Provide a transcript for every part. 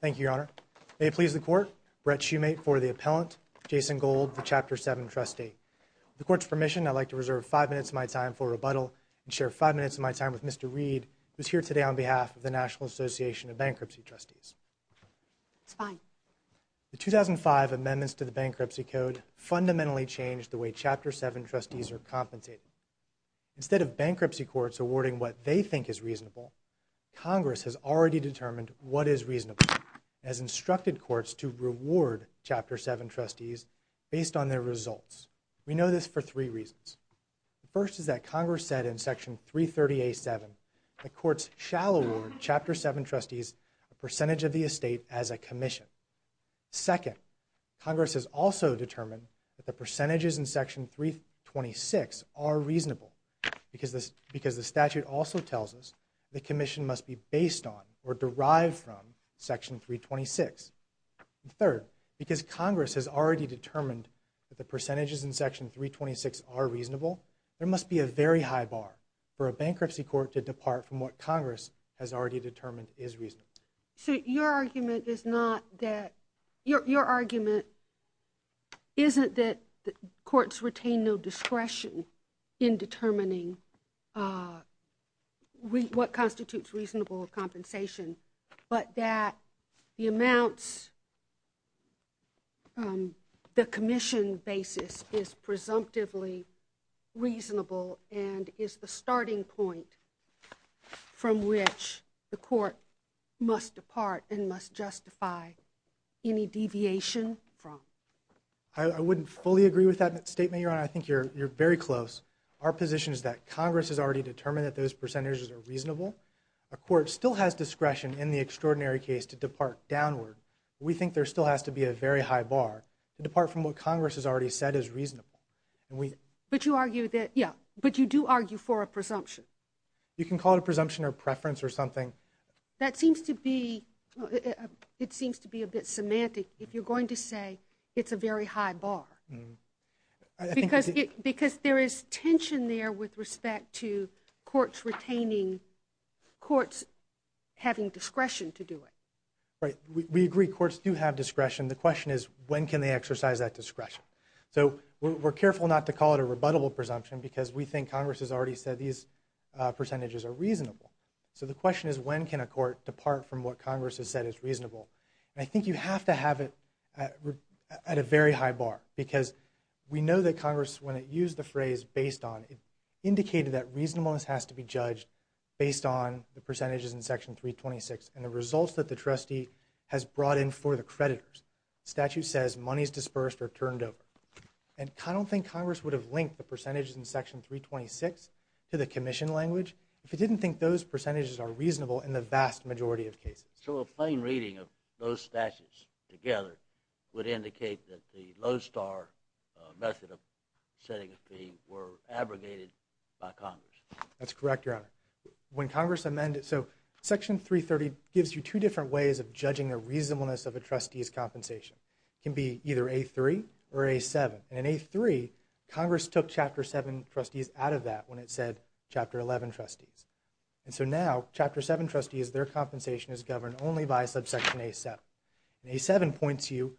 Thank you, Your Honor. May it please the Court, Brett Shumate for the appellant, Jason Gold, the Chapter 7 trustee. With the Court's permission, I'd like to reserve five minutes of my time for rebuttal and share five minutes of my time with Mr. Reed, who is here today on behalf of the National Association of Bankruptcy Trustees. It's fine. The 2005 amendments to the Bankruptcy Code fundamentally changed the way Chapter 7 trustees are compensated. Instead of bankruptcy courts awarding what they think is reasonable, Congress has already determined what is reasonable, and has instructed courts to reward Chapter 7 trustees based on their results. We know this for three reasons. The first is that Congress said in Section 330A.7 that courts shall award Chapter 7 trustees a percentage of the estate as a commission. Second, Congress has also determined that the percentages in Section 326 are reasonable, because the statute also tells us the commission must be based on or derived from Section 326. Third, because Congress has already determined that the percentages in Section 326 are reasonable, there must be a very high bar for a bankruptcy court to depart from what Congress has already determined is reasonable. So your argument is not that – your argument isn't that courts retain no discretion in determining what constitutes reasonable compensation, but that the amounts – the commission basis is presumptively reasonable and is the starting point from which the court must depart and must justify any deviation from. I wouldn't fully agree with that statement, Your Honor. I think you're very close. Our position is that Congress has already determined that those percentages are reasonable. A court still has discretion in the extraordinary case to depart downward. We think there still has to be a very high bar to depart from what Congress has already said is reasonable. But you argue that – yeah, but you do argue for a presumption. You can call it a presumption or preference or something. That seems to be – it seems to be a bit semantic if you're going to say it's a very high bar. Because there is tension there with respect to courts retaining – courts having discretion to do it. Right. We agree courts do have discretion. The question is when can they exercise that discretion. So we're careful not to call it a rebuttable presumption because we think Congress has already said these percentages are reasonable. So the question is when can a court depart from what Congress has said is reasonable. And I think you have to have it at a very high bar. Because we know that Congress, when it used the phrase based on, it indicated that reasonableness has to be judged based on the percentages in Section 326 and the results that the trustee has brought in for the creditors. The statute says money is dispersed or turned over. And I don't think Congress would have linked the percentages in Section 326 to the commission language if it didn't think those percentages are reasonable in the vast majority of cases. So a plain reading of those statutes together would indicate that the low-star method of setting a fee were abrogated by Congress. That's correct, Your Honor. When Congress amended – so Section 330 gives you two different ways of judging the reasonableness of a trustee's compensation. It can be either A3 or A7. And in A3, Congress took Chapter 7 trustees out of that when it said Chapter 11 trustees. And so now, Chapter 7 trustees, their compensation is governed only by subsection A7. And A7 points you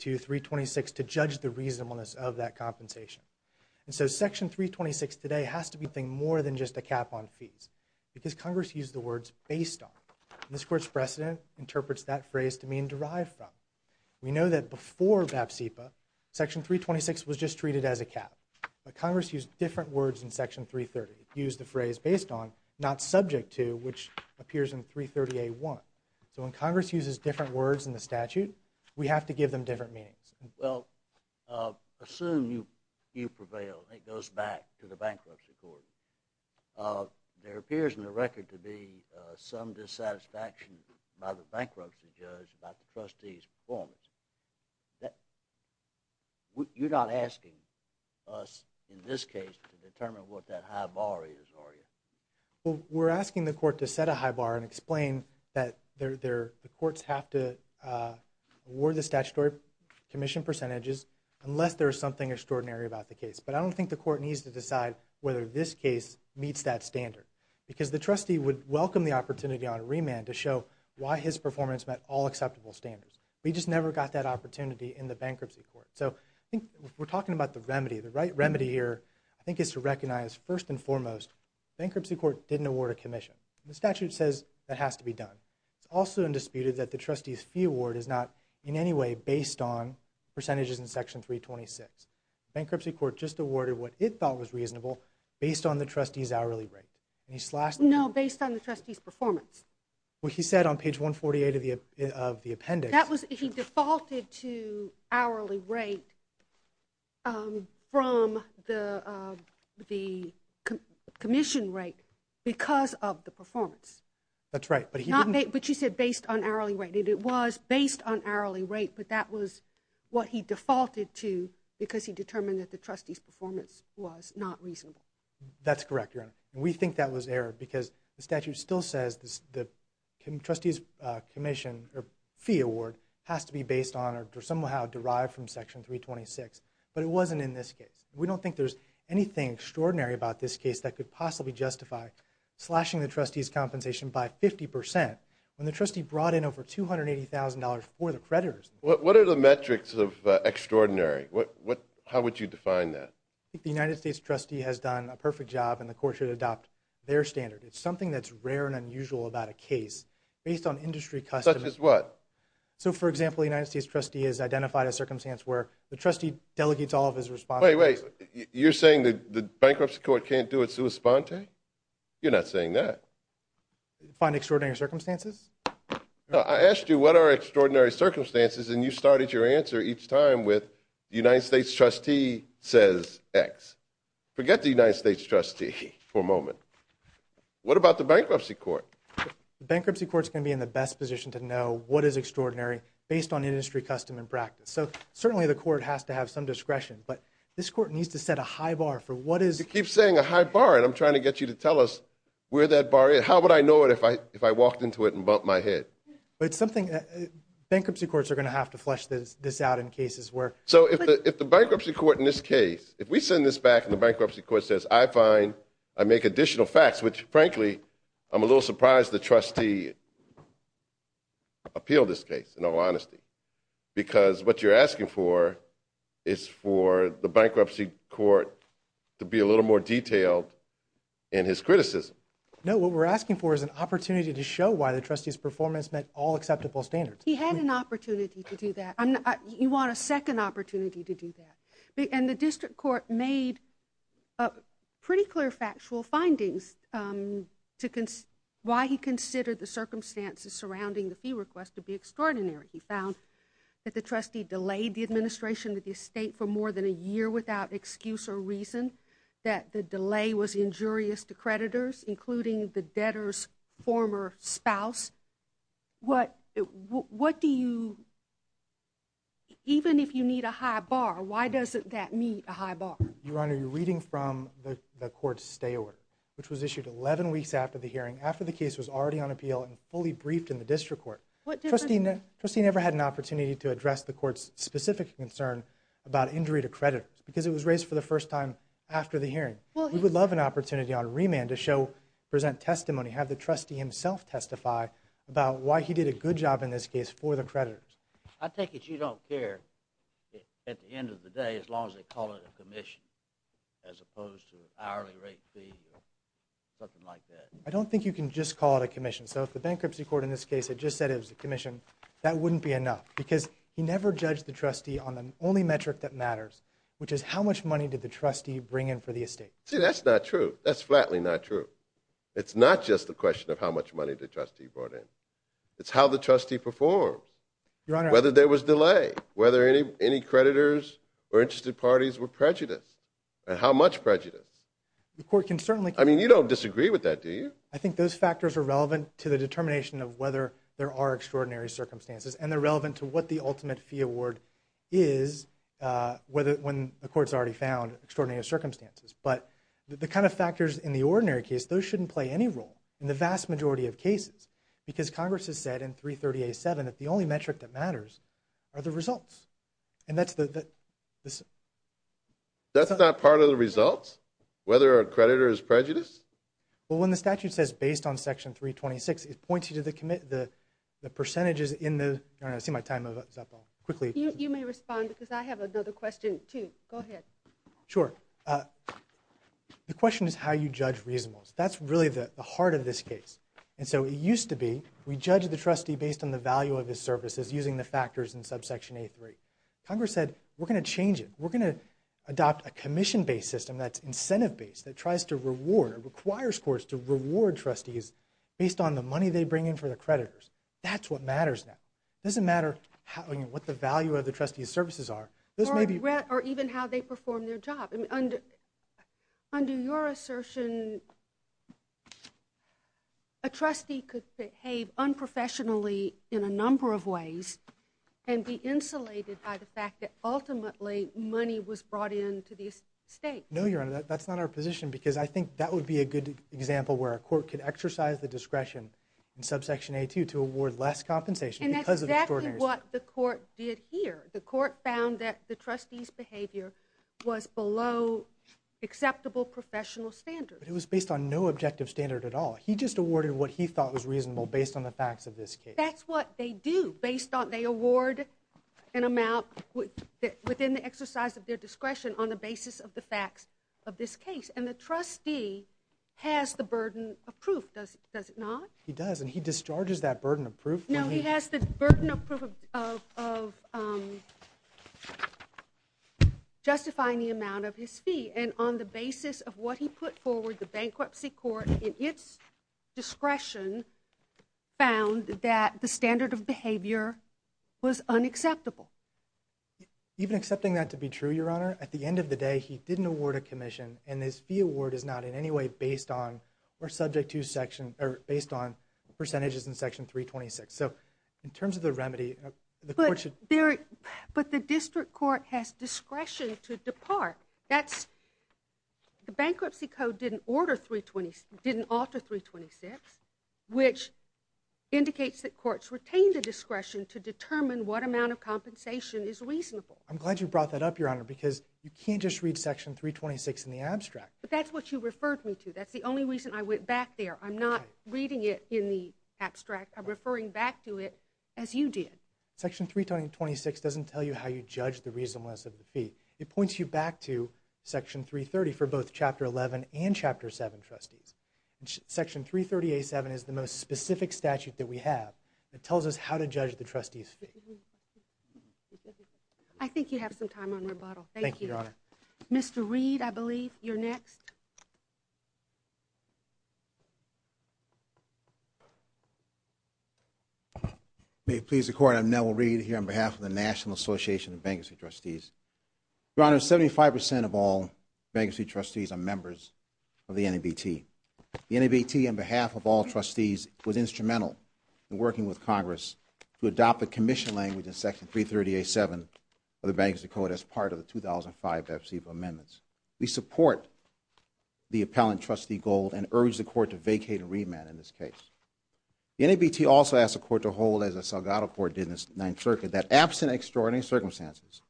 to 326 to judge the reasonableness of that compensation. And so Section 326 today has to be more than just a cap on fees. Because Congress used the words based on. And this Court's precedent interprets that phrase to mean derived from. We know that before BAPSIPA, Section 326 was just treated as a cap. But Congress used different words in Section 330. It used the phrase based on, not subject to, which appears in 330A1. So when Congress uses different words in the statute, we have to give them different meanings. Well, assume you prevail and it goes back to the bankruptcy court. There appears in the record to be some dissatisfaction by the bankruptcy judge about the trustee's performance. You're not asking us in this case to determine what that high bar is, are you? Well, we're asking the court to set a high bar and explain that the courts have to award the statutory commission percentages unless there's something extraordinary about the case. But I don't think the court needs to decide whether this case meets that standard. Because the trustee would welcome the opportunity on remand to show why his performance met all acceptable standards. But he just never got that opportunity in the bankruptcy court. So I think we're talking about the remedy. The right remedy here, I think, is to recognize, first and foremost, bankruptcy court didn't award a commission. The statute says that has to be done. It's also undisputed that the trustee's fee award is not in any way based on percentages in Section 326. Bankruptcy court just awarded what it thought was reasonable based on the trustee's hourly rate. No, based on the trustee's performance. What he said on page 148 of the appendix. He defaulted to hourly rate from the commission rate because of the performance. That's right. But you said based on hourly rate. It was based on hourly rate, but that was what he defaulted to because he determined that the trustee's performance was not reasonable. That's correct, Your Honor. We think that was error because the statute still says the trustee's fee award has to be based on or somehow derived from Section 326. But it wasn't in this case. We don't think there's anything extraordinary about this case that could possibly justify slashing the trustee's compensation by 50% when the trustee brought in over $280,000 for the creditors. What are the metrics of extraordinary? How would you define that? I think the United States trustee has done a perfect job and the court should adopt their standard. It's something that's rare and unusual about a case. Based on industry custom. Such as what? So, for example, the United States trustee has identified a circumstance where the trustee delegates all of his responsibilities. Wait, wait. You're saying the bankruptcy court can't do it sua sponte? You're not saying that. Find extraordinary circumstances? I asked you what are extraordinary circumstances and you started your answer each time with the United States trustee says X. Forget the United States trustee for a moment. What about the bankruptcy court? The bankruptcy court's going to be in the best position to know what is extraordinary based on industry custom and practice. So certainly the court has to have some discretion. But this court needs to set a high bar for what is. You keep saying a high bar and I'm trying to get you to tell us where that bar is. How would I know it if I walked into it and bumped my head? Bankruptcy courts are going to have to flesh this out in cases where. So if the bankruptcy court in this case, if we send this back and the bankruptcy court says I find, I make additional facts. Which frankly, I'm a little surprised the trustee appealed this case in all honesty. Because what you're asking for is for the bankruptcy court to be a little more detailed in his criticism. No, what we're asking for is an opportunity to show why the trustee's performance met all acceptable standards. He had an opportunity to do that. You want a second opportunity to do that. And the district court made pretty clear factual findings to why he considered the circumstances surrounding the fee request to be extraordinary. He found that the trustee delayed the administration of the estate for more than a year without excuse or reason. That the delay was injurious to creditors, including the debtor's former spouse. What do you, even if you need a high bar, why doesn't that meet a high bar? Your Honor, you're reading from the court's stay order. Which was issued 11 weeks after the hearing, after the case was already on appeal and fully briefed in the district court. Trustee never had an opportunity to address the court's specific concern about injury to creditors. Because it was raised for the first time after the hearing. We would love an opportunity on remand to present testimony. Have the trustee himself testify about why he did a good job in this case for the creditors. I take it you don't care, at the end of the day, as long as they call it a commission. As opposed to hourly rate fee or something like that. I don't think you can just call it a commission. So if the bankruptcy court in this case had just said it was a commission, that wouldn't be enough. Because he never judged the trustee on the only metric that matters. Which is how much money did the trustee bring in for the estate. See, that's not true. That's flatly not true. It's not just a question of how much money the trustee brought in. It's how the trustee performed. Whether there was delay. Whether any creditors or interested parties were prejudiced. And how much prejudice. I mean, you don't disagree with that, do you? I think those factors are relevant to the determination of whether there are extraordinary circumstances. And they're relevant to what the ultimate fee award is when the court's already found extraordinary circumstances. But the kind of factors in the ordinary case, those shouldn't play any role in the vast majority of cases. Because Congress has said in 330A7 that the only metric that matters are the results. And that's the... That's not part of the results? Whether a creditor is prejudiced? Well, when the statute says based on section 326, it points you to the percentages in the... I don't know, I see my time is up. I'll quickly... You may respond because I have another question, too. Go ahead. Sure. The question is how you judge reasonableness. That's really the heart of this case. And so it used to be we judged the trustee based on the value of his services using the factors in subsection A3. Congress said, we're going to change it. We're going to adopt a commission-based system that's incentive-based, that tries to reward, requires courts to reward trustees based on the money they bring in for the creditors. That's what matters now. It doesn't matter what the value of the trustee's services are. Or even how they perform their job. Under your assertion, a trustee could behave unprofessionally in a number of ways and be insulated by the fact that ultimately money was brought in to the estate. No, Your Honor, that's not our position because I think that would be a good example where a court could exercise the discretion in subsection A2 to award less compensation because of extraordinary... And that's exactly what the court did here. The court found that the trustee's behavior was below acceptable professional standards. But it was based on no objective standard at all. He just awarded what he thought was reasonable based on the facts of this case. That's what they do. They award an amount within the exercise of their discretion on the basis of the facts of this case. And the trustee has the burden of proof, does it not? He does, and he discharges that burden of proof when he... No, he has the burden of proof of justifying the amount of his fee. And on the basis of what he put forward, the bankruptcy court, in its discretion, found that the standard of behavior was unacceptable. Even accepting that to be true, Your Honor, at the end of the day, he didn't award a commission, and this fee award is not in any way based on percentages in Section 326. So in terms of the remedy, the court should... But the district court has discretion to depart. The bankruptcy code didn't alter 326, which indicates that courts retain the discretion to determine what amount of compensation is reasonable. I'm glad you brought that up, Your Honor, because you can't just read Section 326 in the abstract. But that's what you referred me to. That's the only reason I went back there. I'm not reading it in the abstract. I'm referring back to it as you did. Section 326 doesn't tell you how you judge the reasonableness of the fee. It points you back to Section 330 for both Chapter 11 and Chapter 7 trustees. Section 338-7 is the most specific statute that we have. It tells us how to judge the trustees' fee. I think you have some time on rebuttal. Thank you. Thank you, Your Honor. Mr. Reed, I believe, you're next. May it please the Court, I'm Neville Reed here on behalf of the National Association of Bankruptcy Trustees. Your Honor, 75% of all bankruptcy trustees are members of the NABT. The NABT, on behalf of all trustees, was instrumental in working with Congress to adopt the commission language in Section 330-A-7 of the Bankruptcy Code as part of the 2005 Debt Receivable Amendments. We support the appellant, Trustee Gold, and urge the Court to vacate and remand in this case. The NABT also asks the Court to hold, as the Salgado Court did in the Ninth Circuit, that absent of extraordinary circumstances,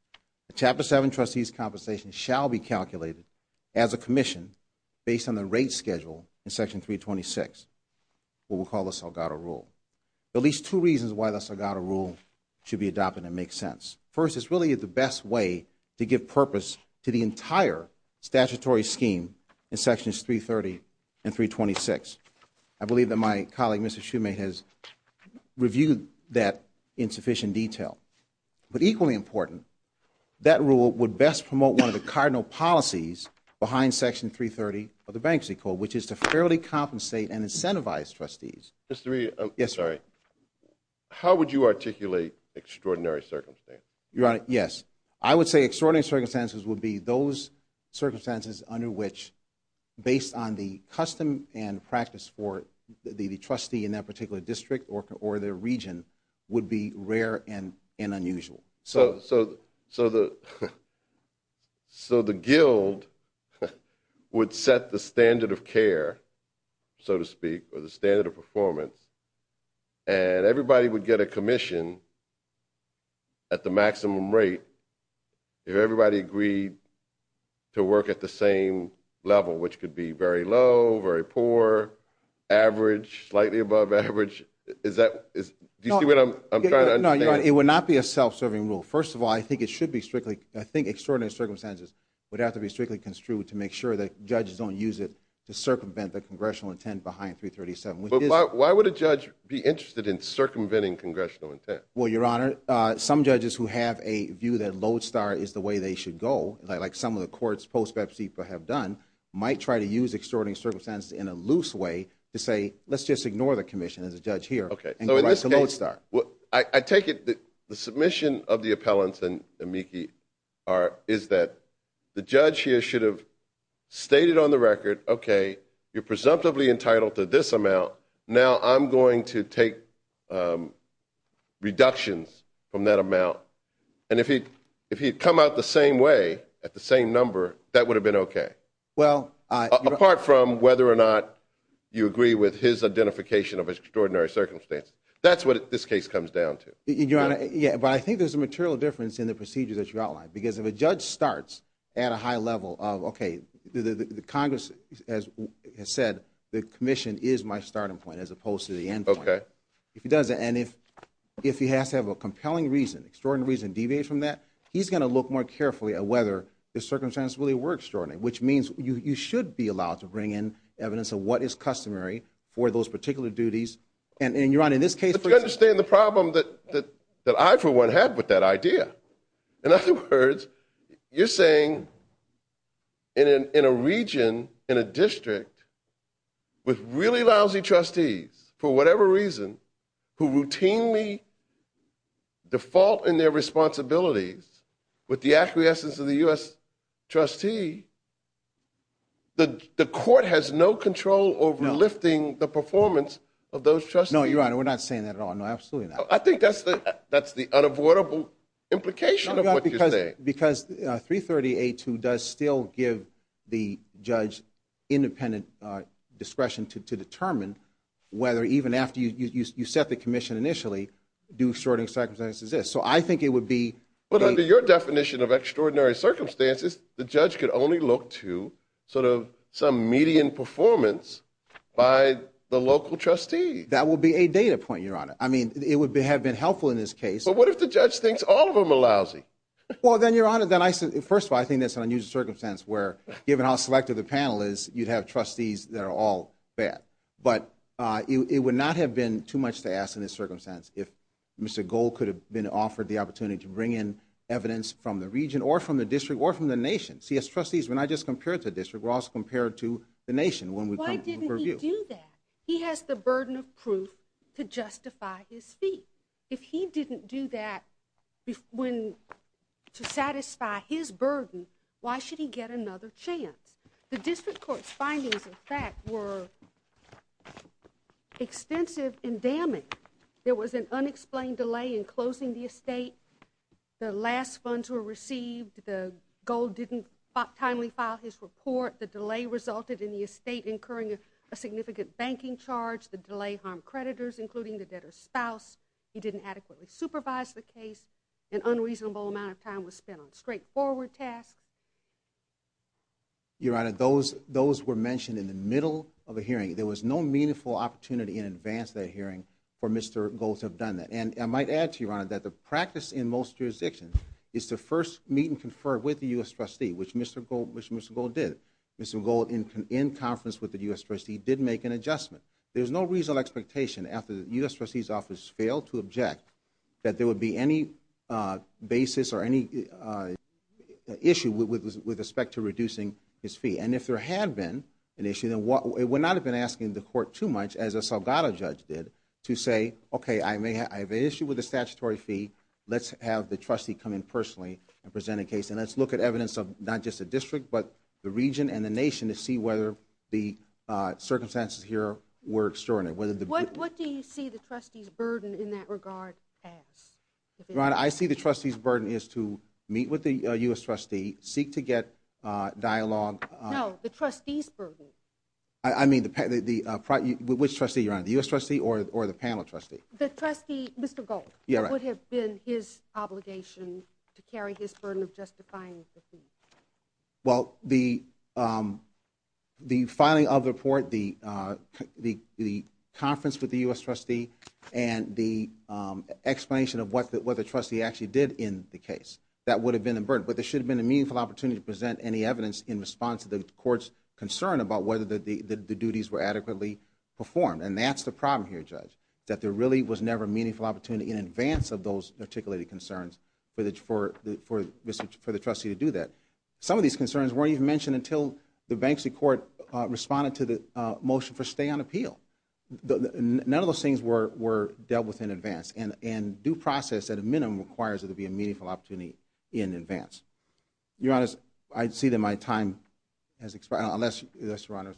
the Chapter 7 trustees' compensation shall be calculated as a commission based on the rate schedule in Section 326, what we'll call the Salgado Rule. There are at least two reasons why the Salgado Rule should be adopted and make sense. First, it's really the best way to give purpose to the entire statutory scheme in Sections 330 and 326. I believe that my colleague, Mr. Shumate, has reviewed that in sufficient detail. But equally important, that rule would best promote one of the cardinal policies behind Section 330 of the Bankruptcy Code, which is to fairly compensate and incentivize trustees. Mr. Reed, how would you articulate extraordinary circumstances? Your Honor, yes. I would say extraordinary circumstances would be those circumstances under which, based on the custom and practice for the trustee in that particular district or their region, would be rare and unusual. So the guild would set the standard of care, so to speak, or the standard of performance, and everybody would get a commission at the maximum rate if everybody agreed to work at the same level, which could be very low, very poor, average, slightly above average. Do you see what I'm trying to understand? Your Honor, it would not be a self-serving rule. First of all, I think extraordinary circumstances would have to be strictly construed to make sure that judges don't use it to circumvent the congressional intent behind 337. But why would a judge be interested in circumventing congressional intent? Well, Your Honor, some judges who have a view that Lodestar is the way they should go, like some of the courts post-Bepsi have done, might try to use extraordinary circumstances in a loose way to say, let's just ignore the commission as a judge here and go back to Lodestar. I take it the submission of the appellants and Miki is that the judge here should have stated on the record, okay, you're presumptively entitled to this amount. Now I'm going to take reductions from that amount. And if he had come out the same way at the same number, that would have been okay, apart from whether or not you agree with his identification of extraordinary circumstances. That's what this case comes down to. Your Honor, yeah, but I think there's a material difference in the procedure that you outlined. Because if a judge starts at a high level of, okay, the Congress has said the commission is my starting point as opposed to the end point. Okay. And if he has to have a compelling reason, extraordinary reason deviated from that, he's going to look more carefully at whether the circumstances really were extraordinary, which means you should be allowed to bring in evidence of what is customary for those particular duties. And, Your Honor, in this case. But you understand the problem that I, for one, have with that idea. In other words, you're saying in a region, in a district, with really lousy trustees, for whatever reason, who routinely default in their responsibilities with the acquiescence of the U.S. trustee, the court has no control over lifting the performance of those trustees. No, Your Honor, we're not saying that at all. No, absolutely not. I think that's the unavoidable implication of what you're saying. Because 330A2 does still give the judge independent discretion to determine whether, even after you set the commission initially, do extraordinary circumstances exist. So I think it would be. But under your definition of extraordinary circumstances, the judge could only look to sort of some median performance by the local trustee. That would be a data point, Your Honor. I mean, it would have been helpful in this case. But what if the judge thinks all of them are lousy? Well, then, Your Honor, first of all, I think that's an unusual circumstance where, given how selective the panel is, you'd have trustees that are all bad. But it would not have been too much to ask in this circumstance if Mr. Gold could have been offered the opportunity to bring in evidence from the region or from the district or from the nation. See, as trustees, we're not just compared to the district. We're also compared to the nation when we come to the purview. Why didn't he do that? He has the burden of proof to justify his feat. If he didn't do that to satisfy his burden, why should he get another chance? The district court's findings, in fact, were extensive in damage. There was an unexplained delay in closing the estate. The last funds were received. Gold didn't timely file his report. The delay resulted in the estate incurring a significant banking charge. The delay harmed creditors, including the debtor's spouse. He didn't adequately supervise the case. An unreasonable amount of time was spent on straightforward tasks. Your Honor, those were mentioned in the middle of the hearing. There was no meaningful opportunity in advance of that hearing for Mr. Gold to have done that. And I might add to you, Your Honor, that the practice in most jurisdictions is to first meet and confer with the U.S. trustee, which Mr. Gold did. Mr. Gold, in conference with the U.S. trustee, did make an adjustment. There was no reasonable expectation after the U.S. trustee's office failed to object that there would be any basis or any issue with respect to reducing his fee. And if there had been an issue, then it would not have been asking the court too much, as a Salgado judge did, to say, okay, I have an issue with the statutory fee. Let's have the trustee come in personally and present a case, and let's look at evidence of not just the district but the region and the nation to see whether the circumstances here were extraordinary. What do you see the trustee's burden in that regard as? Your Honor, I see the trustee's burden as to meet with the U.S. trustee, seek to get dialogue. No, the trustee's burden. I mean, which trustee, Your Honor, the U.S. trustee or the panel trustee? Mr. Gold would have been his obligation to carry his burden of justifying the fee. Well, the filing of the report, the conference with the U.S. trustee, and the explanation of what the trustee actually did in the case, that would have been a burden. But there should have been a meaningful opportunity to present any evidence in response to the court's concern about whether the duties were adequately performed. And that's the problem here, Judge, that there really was never a meaningful opportunity in advance of those articulated concerns for the trustee to do that. Some of these concerns weren't even mentioned until the Banksy court responded to the motion for stay on appeal. None of those things were dealt with in advance. And due process, at a minimum, requires there to be a meaningful opportunity in advance. Your Honor, I see that my time has expired. Unless, Your Honor.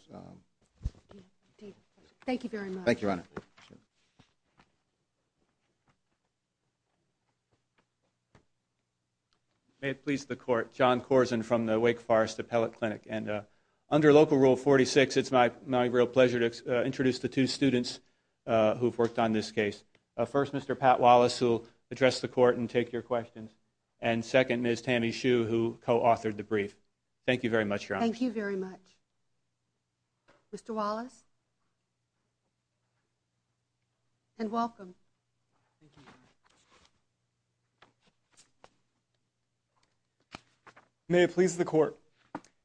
Thank you very much. Thank you, Your Honor. May it please the Court. John Corzine from the Wake Forest Appellate Clinic. Under Local Rule 46, it's my real pleasure to introduce the two students who have worked on this case. First, Mr. Pat Wallace, who will address the Court and take your questions. And second, Ms. Tammy Hsu, who co-authored the brief. Thank you very much, Your Honor. Thank you very much. Mr. Wallace. And welcome. May it please the Court.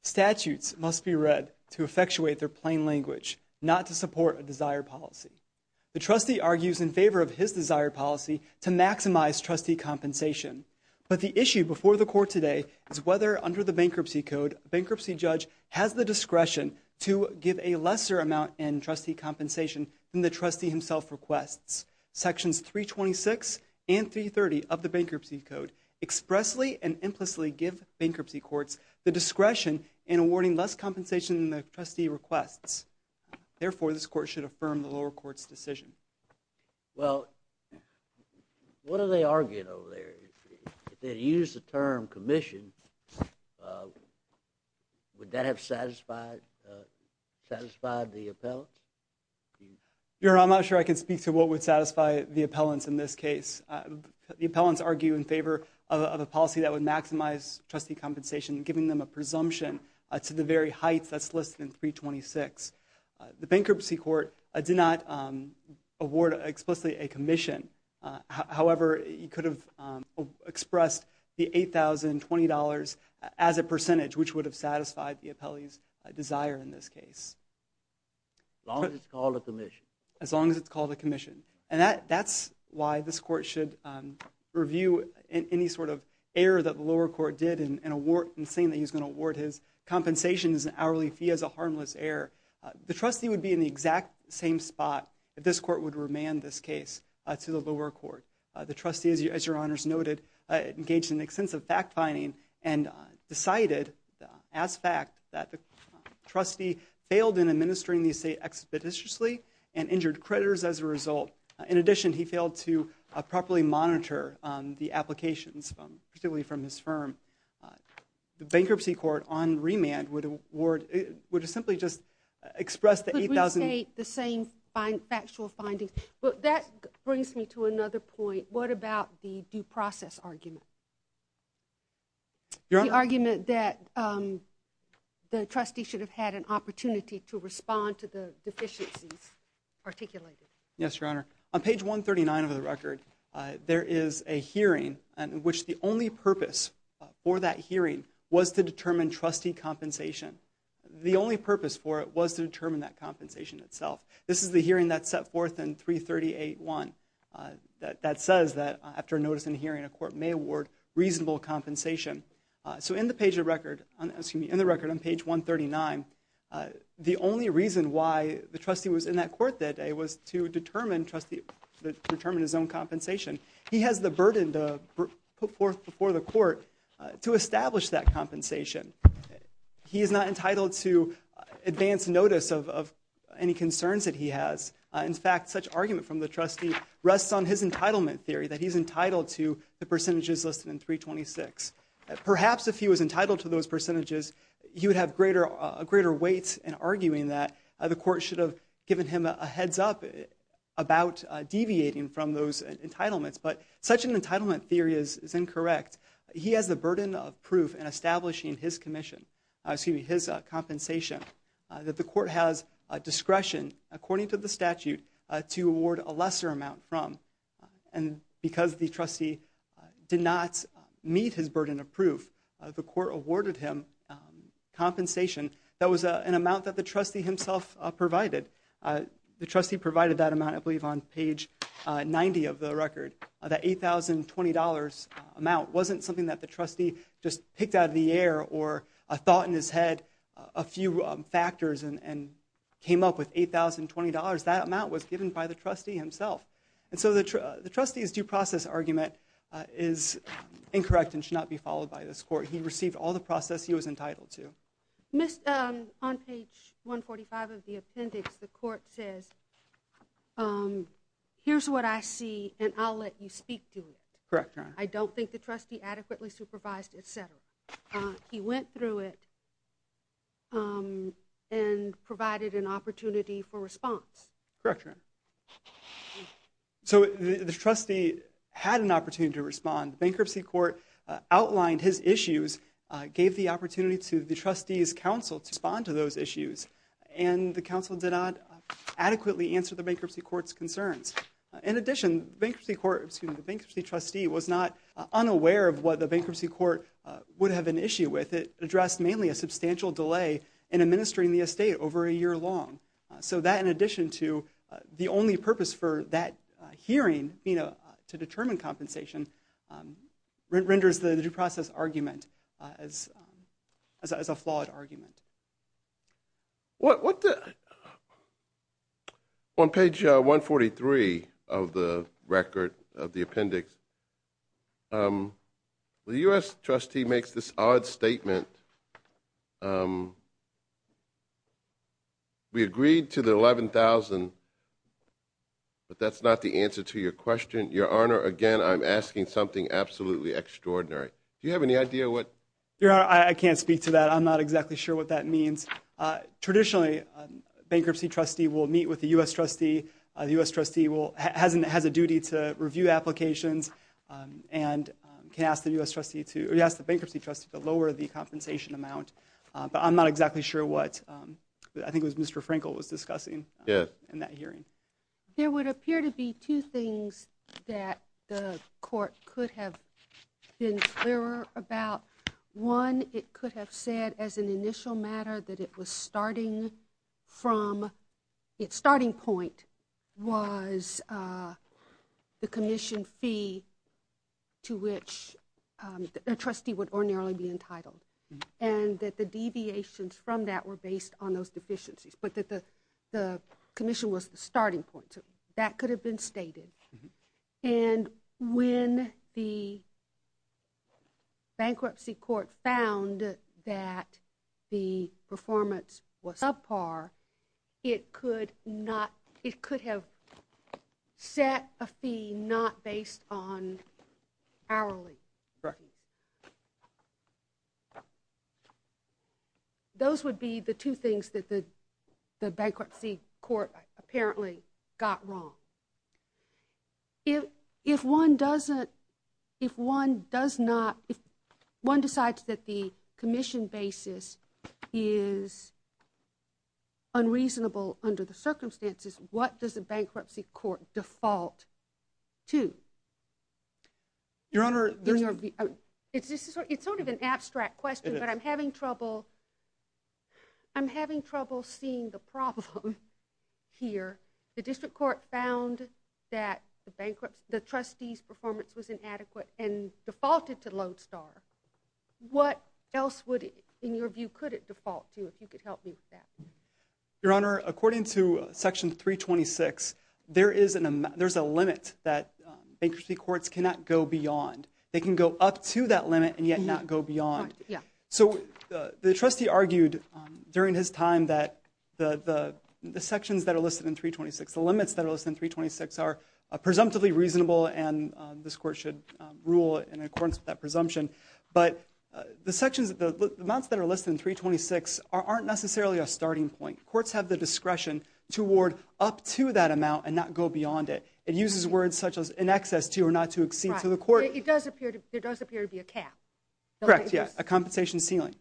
Statutes must be read to effectuate their plain language, not to support a desired policy. The trustee argues in favor of his desired policy to maximize trustee compensation. But the issue before the Court today is whether, under the Bankruptcy Code, a bankruptcy judge has the discretion to give a lesser amount in trustee compensation than the trustee himself requests. Sections 326 and 330 of the Bankruptcy Code expressly and implicitly give bankruptcy courts the discretion in awarding less compensation than the trustee requests. Therefore, this Court should affirm the lower court's decision. Well, what are they arguing over there? If they'd used the term commission, would that have satisfied the appellant? Your Honor, I'm not sure I can speak to what would satisfy the appellants in this case. The appellants argue in favor of a policy that would maximize trustee compensation, giving them a presumption to the very heights that's listed in 326. The bankruptcy court did not award explicitly a commission. However, you could have expressed the $8,020 as a percentage, which would have satisfied the appellee's desire in this case. As long as it's called a commission. As long as it's called a commission. And that's why this Court should review any sort of error that the lower court did in saying that he's going to award his compensation as an hourly fee as a harmless error. The trustee would be in the exact same spot that this Court would remand this case to the lower court. The trustee, as Your Honor's noted, engaged in extensive fact-finding and decided as fact that the trustee failed in administering the estate expeditiously and injured creditors as a result. In addition, he failed to properly monitor the applications, particularly from his firm. The bankruptcy court, on remand, would simply just express the $8,000. Could we state the same factual findings? That brings me to another point. What about the due process argument? Your Honor. The argument that the trustee should have had an opportunity to respond to the deficiencies articulated. Yes, Your Honor. On page 139 of the record, there is a hearing in which the only purpose for that hearing was to determine trustee compensation. The only purpose for it was to determine that compensation itself. This is the hearing that's set forth in 338-1. That says that after a notice and hearing, a court may award reasonable compensation. So in the record on page 139, the only reason why the trustee was in that court that day was to determine his own compensation. He has the burden to put forth before the court to establish that compensation. He is not entitled to advance notice of any concerns that he has. In fact, such argument from the trustee rests on his entitlement theory, that he's entitled to the percentages listed in 326. Perhaps if he was entitled to those percentages, he would have greater weight in arguing that the court should have given him a heads up about deviating from those entitlements. But such an entitlement theory is incorrect. He has the burden of proof in establishing his compensation, that the court has discretion, according to the statute, to award a lesser amount from. Because the trustee did not meet his burden of proof, the court awarded him compensation that was an amount that the trustee himself provided. The trustee provided that amount, I believe, on page 90 of the record. That $8,020 amount wasn't something that the trustee just picked out of the air or thought in his head a few factors and came up with $8,020. That amount was given by the trustee himself. And so the trustee's due process argument is incorrect and should not be followed by this court. He received all the process he was entitled to. On page 145 of the appendix, the court says, here's what I see and I'll let you speak to it. I don't think the trustee adequately supervised, etc. He went through it and provided an opportunity for response. So the trustee had an opportunity to respond. The bankruptcy court outlined his issues, gave the opportunity to the trustee's counsel to respond to those issues, and the counsel did not adequately answer the bankruptcy court's concerns. In addition, the bankruptcy trustee was not unaware of what the bankruptcy court would have an issue with. It addressed mainly a substantial delay in administering the estate over a year long. So that in addition to the only purpose for that hearing, to determine compensation, renders the due process argument as a flawed argument. On page 143 of the record of the appendix, the U.S. trustee makes this odd statement. We agreed to the $11,000, but that's not the answer to your question. Your Honor, again, I'm asking something absolutely extraordinary. Do you have any idea what? Your Honor, I can't speak to that. I'm not exactly sure what that means. Traditionally, a bankruptcy trustee will meet with a U.S. trustee. The U.S. trustee has a duty to review applications and can ask the bankruptcy trustee to lower the compensation amount. But I'm not exactly sure what I think it was Mr. Frankel was discussing in that hearing. There would appear to be two things that the court could have been clearer about. One, it could have said as an initial matter that it was starting from its starting point was the commission fee to which the trustee would ordinarily be entitled and that the deviations from that were based on those deficiencies, but that the commission was the starting point. That could have been stated. And when the bankruptcy court found that the performance was subpar, it could have set a fee not based on hourly. Correct me. Those would be the two things that the bankruptcy court apparently got wrong. If one decides that the commission basis is unreasonable under the circumstances, what does the bankruptcy court default to? Your Honor. It's sort of an abstract question, but I'm having trouble seeing the problem here. The district court found that the trustee's performance was inadequate and defaulted to Lodestar. What else in your view could it default to if you could help me with that? Your Honor, according to Section 326, there's a limit that bankruptcy courts cannot go beyond. They can go up to that limit and yet not go beyond. So the trustee argued during his time that the sections that are listed in 326, the limits that are listed in 326 are presumptively reasonable and this court should rule in accordance with that presumption. The amounts that are listed in 326 aren't necessarily a starting point. Courts have the discretion to award up to that amount and not go beyond it. It uses words such as in excess to or not to exceed. There does appear to be a cap. Correct, yes, a compensation ceiling.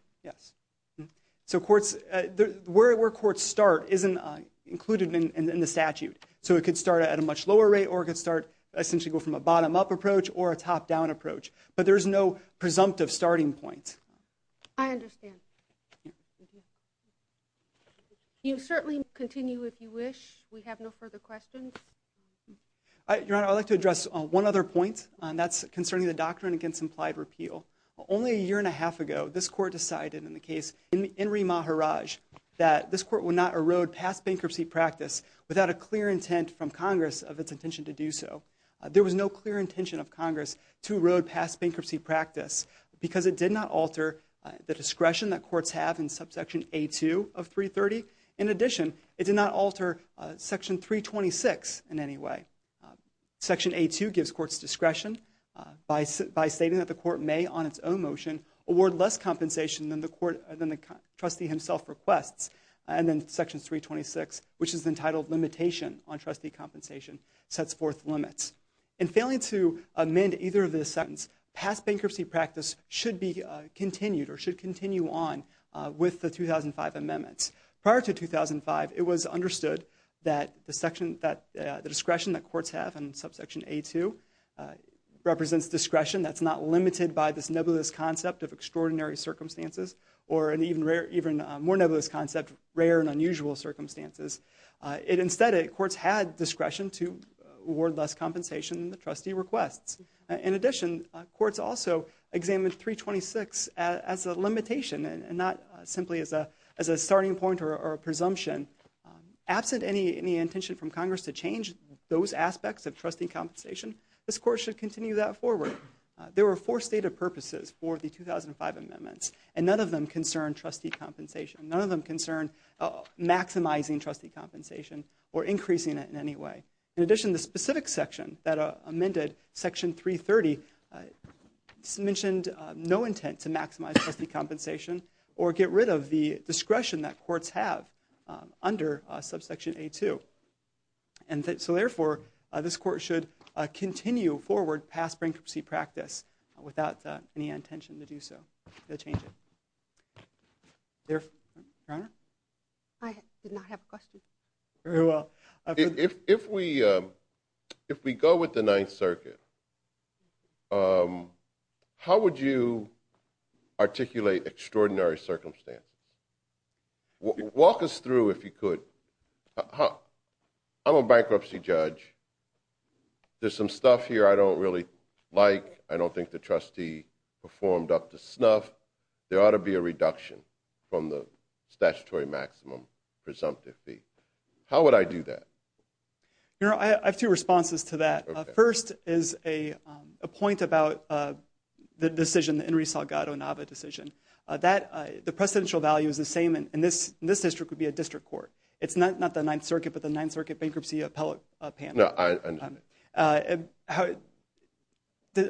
Where courts start isn't included in the statute. So it could start at a much lower rate or it could essentially go from a bottom-up approach or a top-down approach. But there's no presumptive starting point. I understand. You certainly continue if you wish. We have no further questions. Your Honor, I'd like to address one other point, and that's concerning the doctrine against implied repeal. Only a year and a half ago, this court decided in the case Enri Maharaj that this court would not erode past bankruptcy practice without a clear intent from Congress of its intention to do so. There was no clear intention of Congress to erode past bankruptcy practice because it did not alter the discretion that courts have in subsection A2 of 330. In addition, it did not alter section 326 in any way. Section A2 gives courts discretion by stating that the court may, on its own motion, award less compensation than the trustee himself requests. And then section 326, which is entitled Limitation on Trustee Compensation, sets forth limits. In failing to amend either of these sentences, past bankruptcy practice should be continued or should continue on with the 2005 amendments. Prior to 2005, it was understood that the discretion that courts have in subsection A2 represents discretion that's not limited by this nebulous concept of extraordinary circumstances or an even more nebulous concept of rare and unusual circumstances. Instead, courts had discretion to award less compensation than the trustee requests. In addition, courts also examined 326 as a limitation and not simply as a starting point or a presumption. Absent any intention from Congress to change those aspects of trustee compensation, this court should continue that forward. There were four stated purposes for the 2005 amendments. And none of them concern trustee compensation. None of them concern maximizing trustee compensation or increasing it in any way. In addition, the specific section that amended, section 330, mentioned no intent to maximize trustee compensation or get rid of the discretion that courts have under subsection A2. And so therefore, this court should continue forward past bankruptcy practice without any intention to do so, to change it. Your Honor? I did not have a question. Very well. If we go with the Ninth Circuit, how would you articulate extraordinary circumstances? Walk us through, if you could. I'm a bankruptcy judge. There's some stuff here I don't really like. I don't think the trustee performed up to snuff. There ought to be a reduction from the statutory maximum presumptive fee. How would I do that? Your Honor, I have two responses to that. First is a point about the decision, the Enri Salgado-Nava decision. The precedential value is the same, and this district would be a district court. It's not the Ninth Circuit, but the Ninth Circuit bankruptcy appellate panel. No, I understand.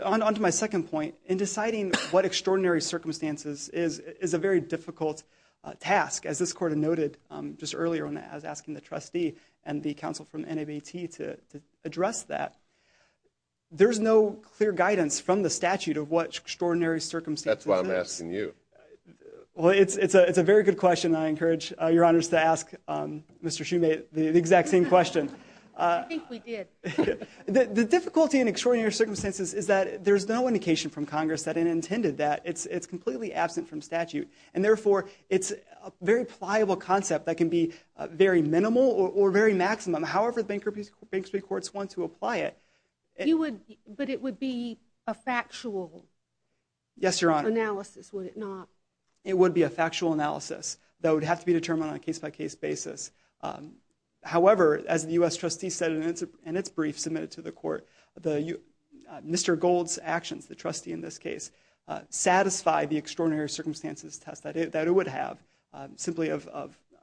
On to my second point. In deciding what extraordinary circumstances is a very difficult task. As this court noted just earlier when I was asking the trustee and the counsel from NABT to address that, That's why I'm asking you. Well, it's a very good question, and I encourage Your Honors to ask Mr. Shumate the exact same question. I think we did. The difficulty in extraordinary circumstances is that there's no indication from Congress that it intended that. It's completely absent from statute, and therefore it's a very pliable concept that can be very minimal or very maximum, however the bankruptcy courts want to apply it. But it would be a factual? Yes, Your Honor. Analysis, would it not? It would be a factual analysis that would have to be determined on a case-by-case basis. However, as the U.S. trustee said in its brief submitted to the court, Mr. Gold's actions, the trustee in this case, satisfied the extraordinary circumstances test that it would have simply of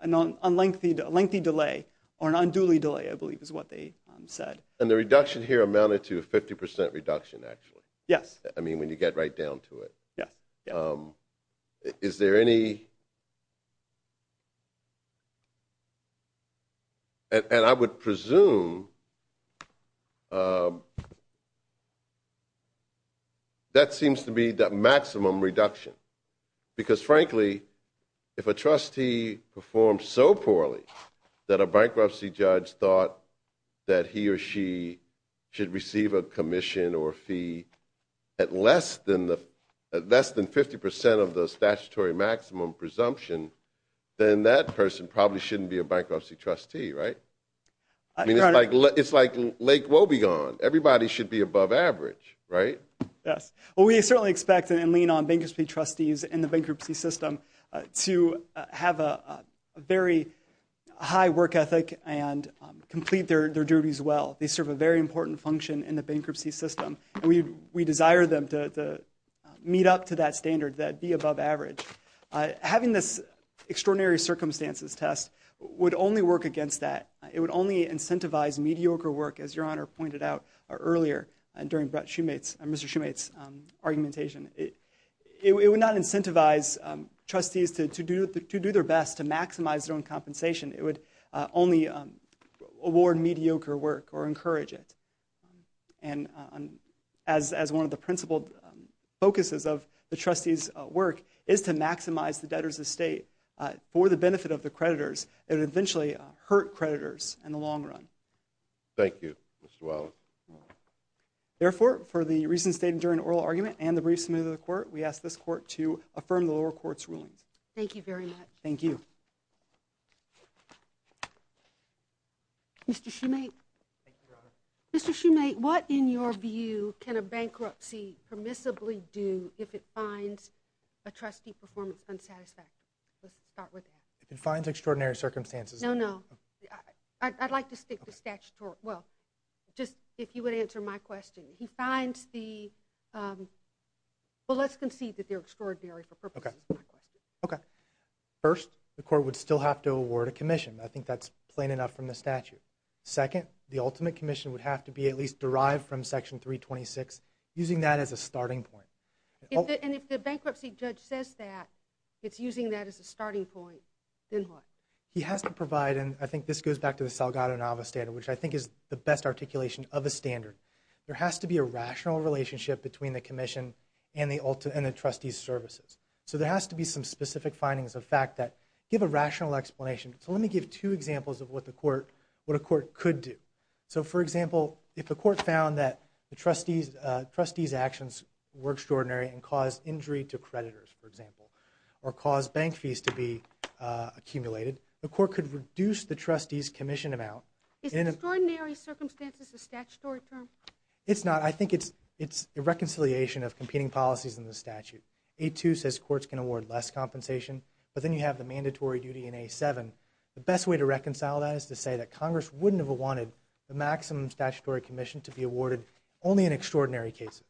a lengthy delay, or an unduly delay, I believe is what they said. And the reduction here amounted to a 50% reduction, actually. Yes. I mean, when you get right down to it. Yes. Is there any... And I would presume that seems to be the maximum reduction, because frankly, if a trustee performs so poorly that a bankruptcy judge thought that he or she should receive a commission or fee at less than 50% of the statutory maximum presumption, then that person probably shouldn't be a bankruptcy trustee, right? I mean, it's like Lake Wobegon. Everybody should be above average, right? Yes. Well, we certainly expect and lean on bankruptcy trustees in the bankruptcy system to have a very high work ethic and complete their duties well. They serve a very important function in the bankruptcy system, and we desire them to meet up to that standard, that be above average. Having this extraordinary circumstances test would only work against that. It would only incentivize mediocre work, as Your Honor pointed out earlier during Mr. Shumate's argumentation. It would not incentivize trustees to do their best to maximize their own compensation. It would only award mediocre work or encourage it. And as one of the principled focuses of the trustees' work is to maximize the debtor's estate for the benefit of the creditors, it would eventually hurt creditors in the long run. Thank you, Mr. Wallin. Therefore, for the reasons stated during the oral argument and the brief submitted to the court, we ask this court to affirm the lower court's rulings. Thank you very much. Thank you. Mr. Shumate. Thank you, Your Honor. Mr. Shumate, what, in your view, can a bankruptcy permissibly do if it finds a trustee performance unsatisfactory? Let's start with that. If it finds extraordinary circumstances. No, no. I'd like to stick to statutory. Well, just if you would answer my question. He finds the—well, let's concede that they're extraordinary for purposes of my question. Okay. First, the court would still have to award a commission. I think that's plain enough from the statute. Second, the ultimate commission would have to be at least derived from Section 326, using that as a starting point. And if the bankruptcy judge says that, it's using that as a starting point, then what? He has to provide, and I think this goes back to the Salgado-Nava standard, which I think is the best articulation of a standard. There has to be a rational relationship between the commission and the trustees' services. So there has to be some specific findings of fact that give a rational explanation. So let me give two examples of what a court could do. So, for example, if a court found that the trustees' actions were extraordinary and caused injury to creditors, for example, or caused bank fees to be accumulated, the court could reduce the trustees' commission amount. Is extraordinary circumstances a statutory term? It's not. I think it's a reconciliation of competing policies in the statute. A2 says courts can award less compensation, but then you have the mandatory duty in A7. The best way to reconcile that is to say that Congress wouldn't have wanted the maximum statutory commission to be awarded only in extraordinary cases.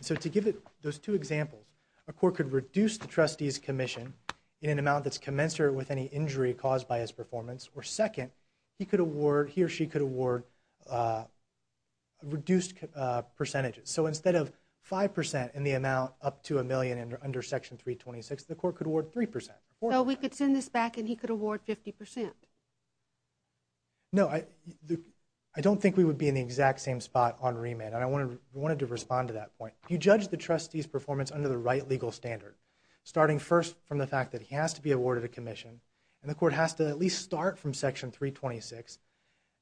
So to give those two examples, a court could reduce the trustees' commission in an amount that's commensurate with any injury caused by his performance, or second, he or she could award reduced percentages. So instead of 5% in the amount up to a million under Section 326, the court could award 3%. So we could send this back and he could award 50%. No, I don't think we would be in the exact same spot on remand, and I wanted to respond to that point. If you judge the trustees' performance under the right legal standard, starting first from the fact that he has to be awarded a commission and the court has to at least start from Section 326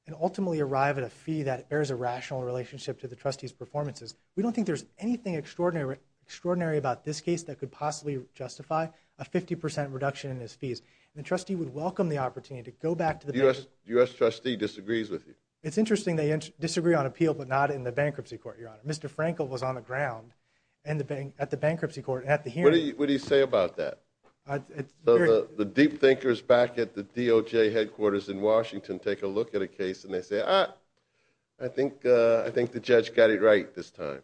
and ultimately arrive at a fee that bears a rational relationship to the trustees' performances, we don't think there's anything extraordinary about this case that could possibly justify a 50% reduction in his fees. The trustee would welcome the opportunity to go back to the bank. The U.S. trustee disagrees with you. It's interesting they disagree on appeal, but not in the bankruptcy court, Your Honor. Mr. Frankel was on the ground at the bankruptcy court. What do you say about that? The deep thinkers back at the DOJ headquarters in Washington take a look at a case and they say, ah, I think the judge got it right this time.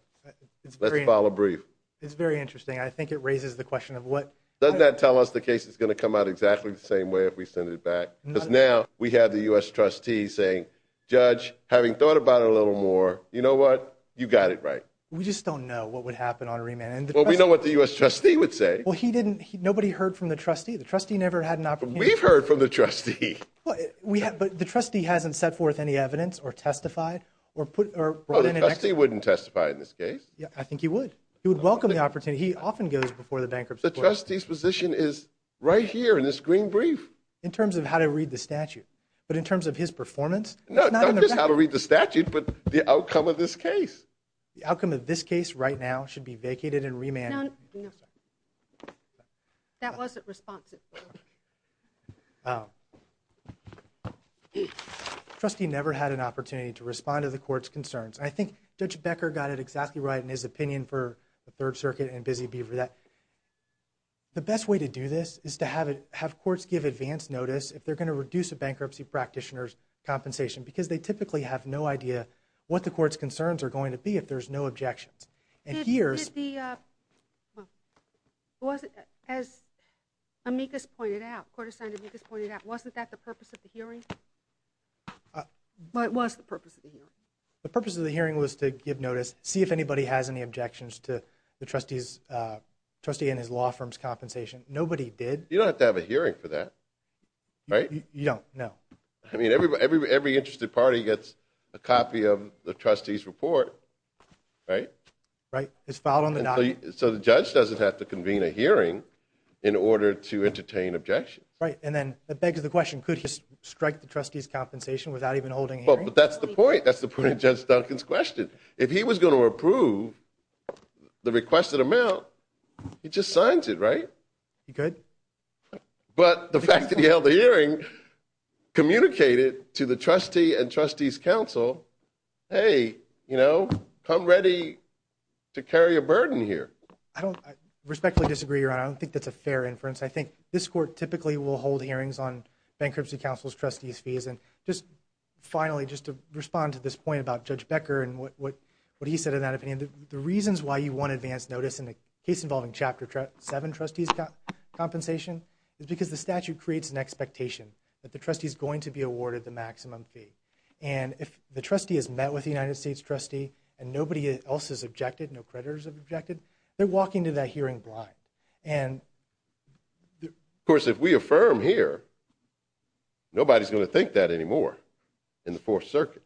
Let's file a brief. It's very interesting. I think it raises the question of what... Doesn't that tell us the case is going to come out exactly the same way if we send it back? Because now we have the U.S. trustee saying, Judge, having thought about it a little more, you know what? You got it right. We just don't know what would happen on remand. Well, we know what the U.S. trustee would say. Well, he didn't...nobody heard from the trustee. The trustee never had an opportunity... We've heard from the trustee. But the trustee hasn't set forth any evidence or testified or put... Oh, the trustee wouldn't testify in this case. Yeah, I think he would. He would welcome the opportunity. He often goes before the bankruptcy court. The trustee's position is right here in this green brief. In terms of how to read the statute, but in terms of his performance... No, not just how to read the statute, but the outcome of this case. The outcome of this case right now should be vacated and remanded. No, sir. That wasn't responsive. The trustee never had an opportunity to respond to the court's concerns. I think Judge Becker got it exactly right in his opinion for the Third Circuit and Busy Beaver that the best way to do this is to have courts give advance notice if they're going to reduce a bankruptcy practitioner's compensation because they typically have no idea what the court's concerns are going to be if there's no objections. Did the... As Amicus pointed out, Court Assigned Amicus pointed out, wasn't that the purpose of the hearing? What was the purpose of the hearing? The purpose of the hearing was to give notice, see if anybody has any objections to the trustee and his law firm's compensation. Nobody did. You don't have to have a hearing for that, right? You don't, no. I mean, every interested party gets a copy of the trustee's report, right? It's filed on the document. So the judge doesn't have to convene a hearing in order to entertain objections. Right, and then that begs the question, could he strike the trustee's compensation without even holding a hearing? But that's the point. That's the point of Judge Duncan's question. If he was going to approve the requested amount, he just signs it, right? He could. But the fact that he held the hearing communicated to the trustee and trustees' counsel, hey, you know, come ready to carry a burden here. I respectfully disagree, Your Honor. I don't think that's a fair inference. I think this court typically will hold hearings on bankruptcy counsel's trustees' fees. And just finally, just to respond to this point about Judge Becker and what he said in that opinion, the reasons why you want advance notice in a case involving Chapter 7 trustees' compensation is because the statute creates an expectation that the trustee is going to be awarded the maximum fee. And if the trustee has met with the United States trustee and nobody else has objected, no creditors have objected, they're walking to that hearing blind. And, of course, if we affirm here, nobody's going to think that anymore in the Fourth Circuit.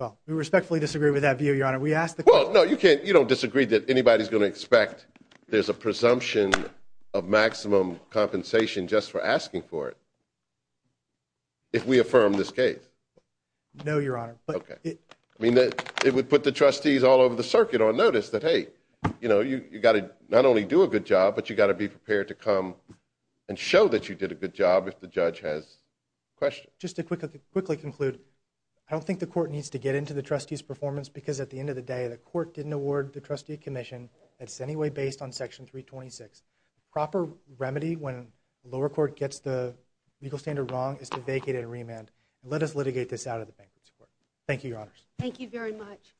Well, we respectfully disagree with that view, Your Honor. We asked the question. Well, no, you don't disagree that anybody's going to expect there's a presumption of maximum compensation just for asking for it. If we affirm this case? No, Your Honor. Okay. I mean, it would put the trustees all over the circuit on notice that, hey, you know, you've got to not only do a good job, but you've got to be prepared to come and show that you did a good job if the judge has questions. Just to quickly conclude, I don't think the court needs to get into the trustees' performance because at the end of the day, the court didn't award the trustee commission that's anyway based on Section 326. The proper remedy when the lower court gets the legal standard wrong is to vacate and remand. Let us litigate this out of the bankruptcy court. Thank you, Your Honors. Thank you very much.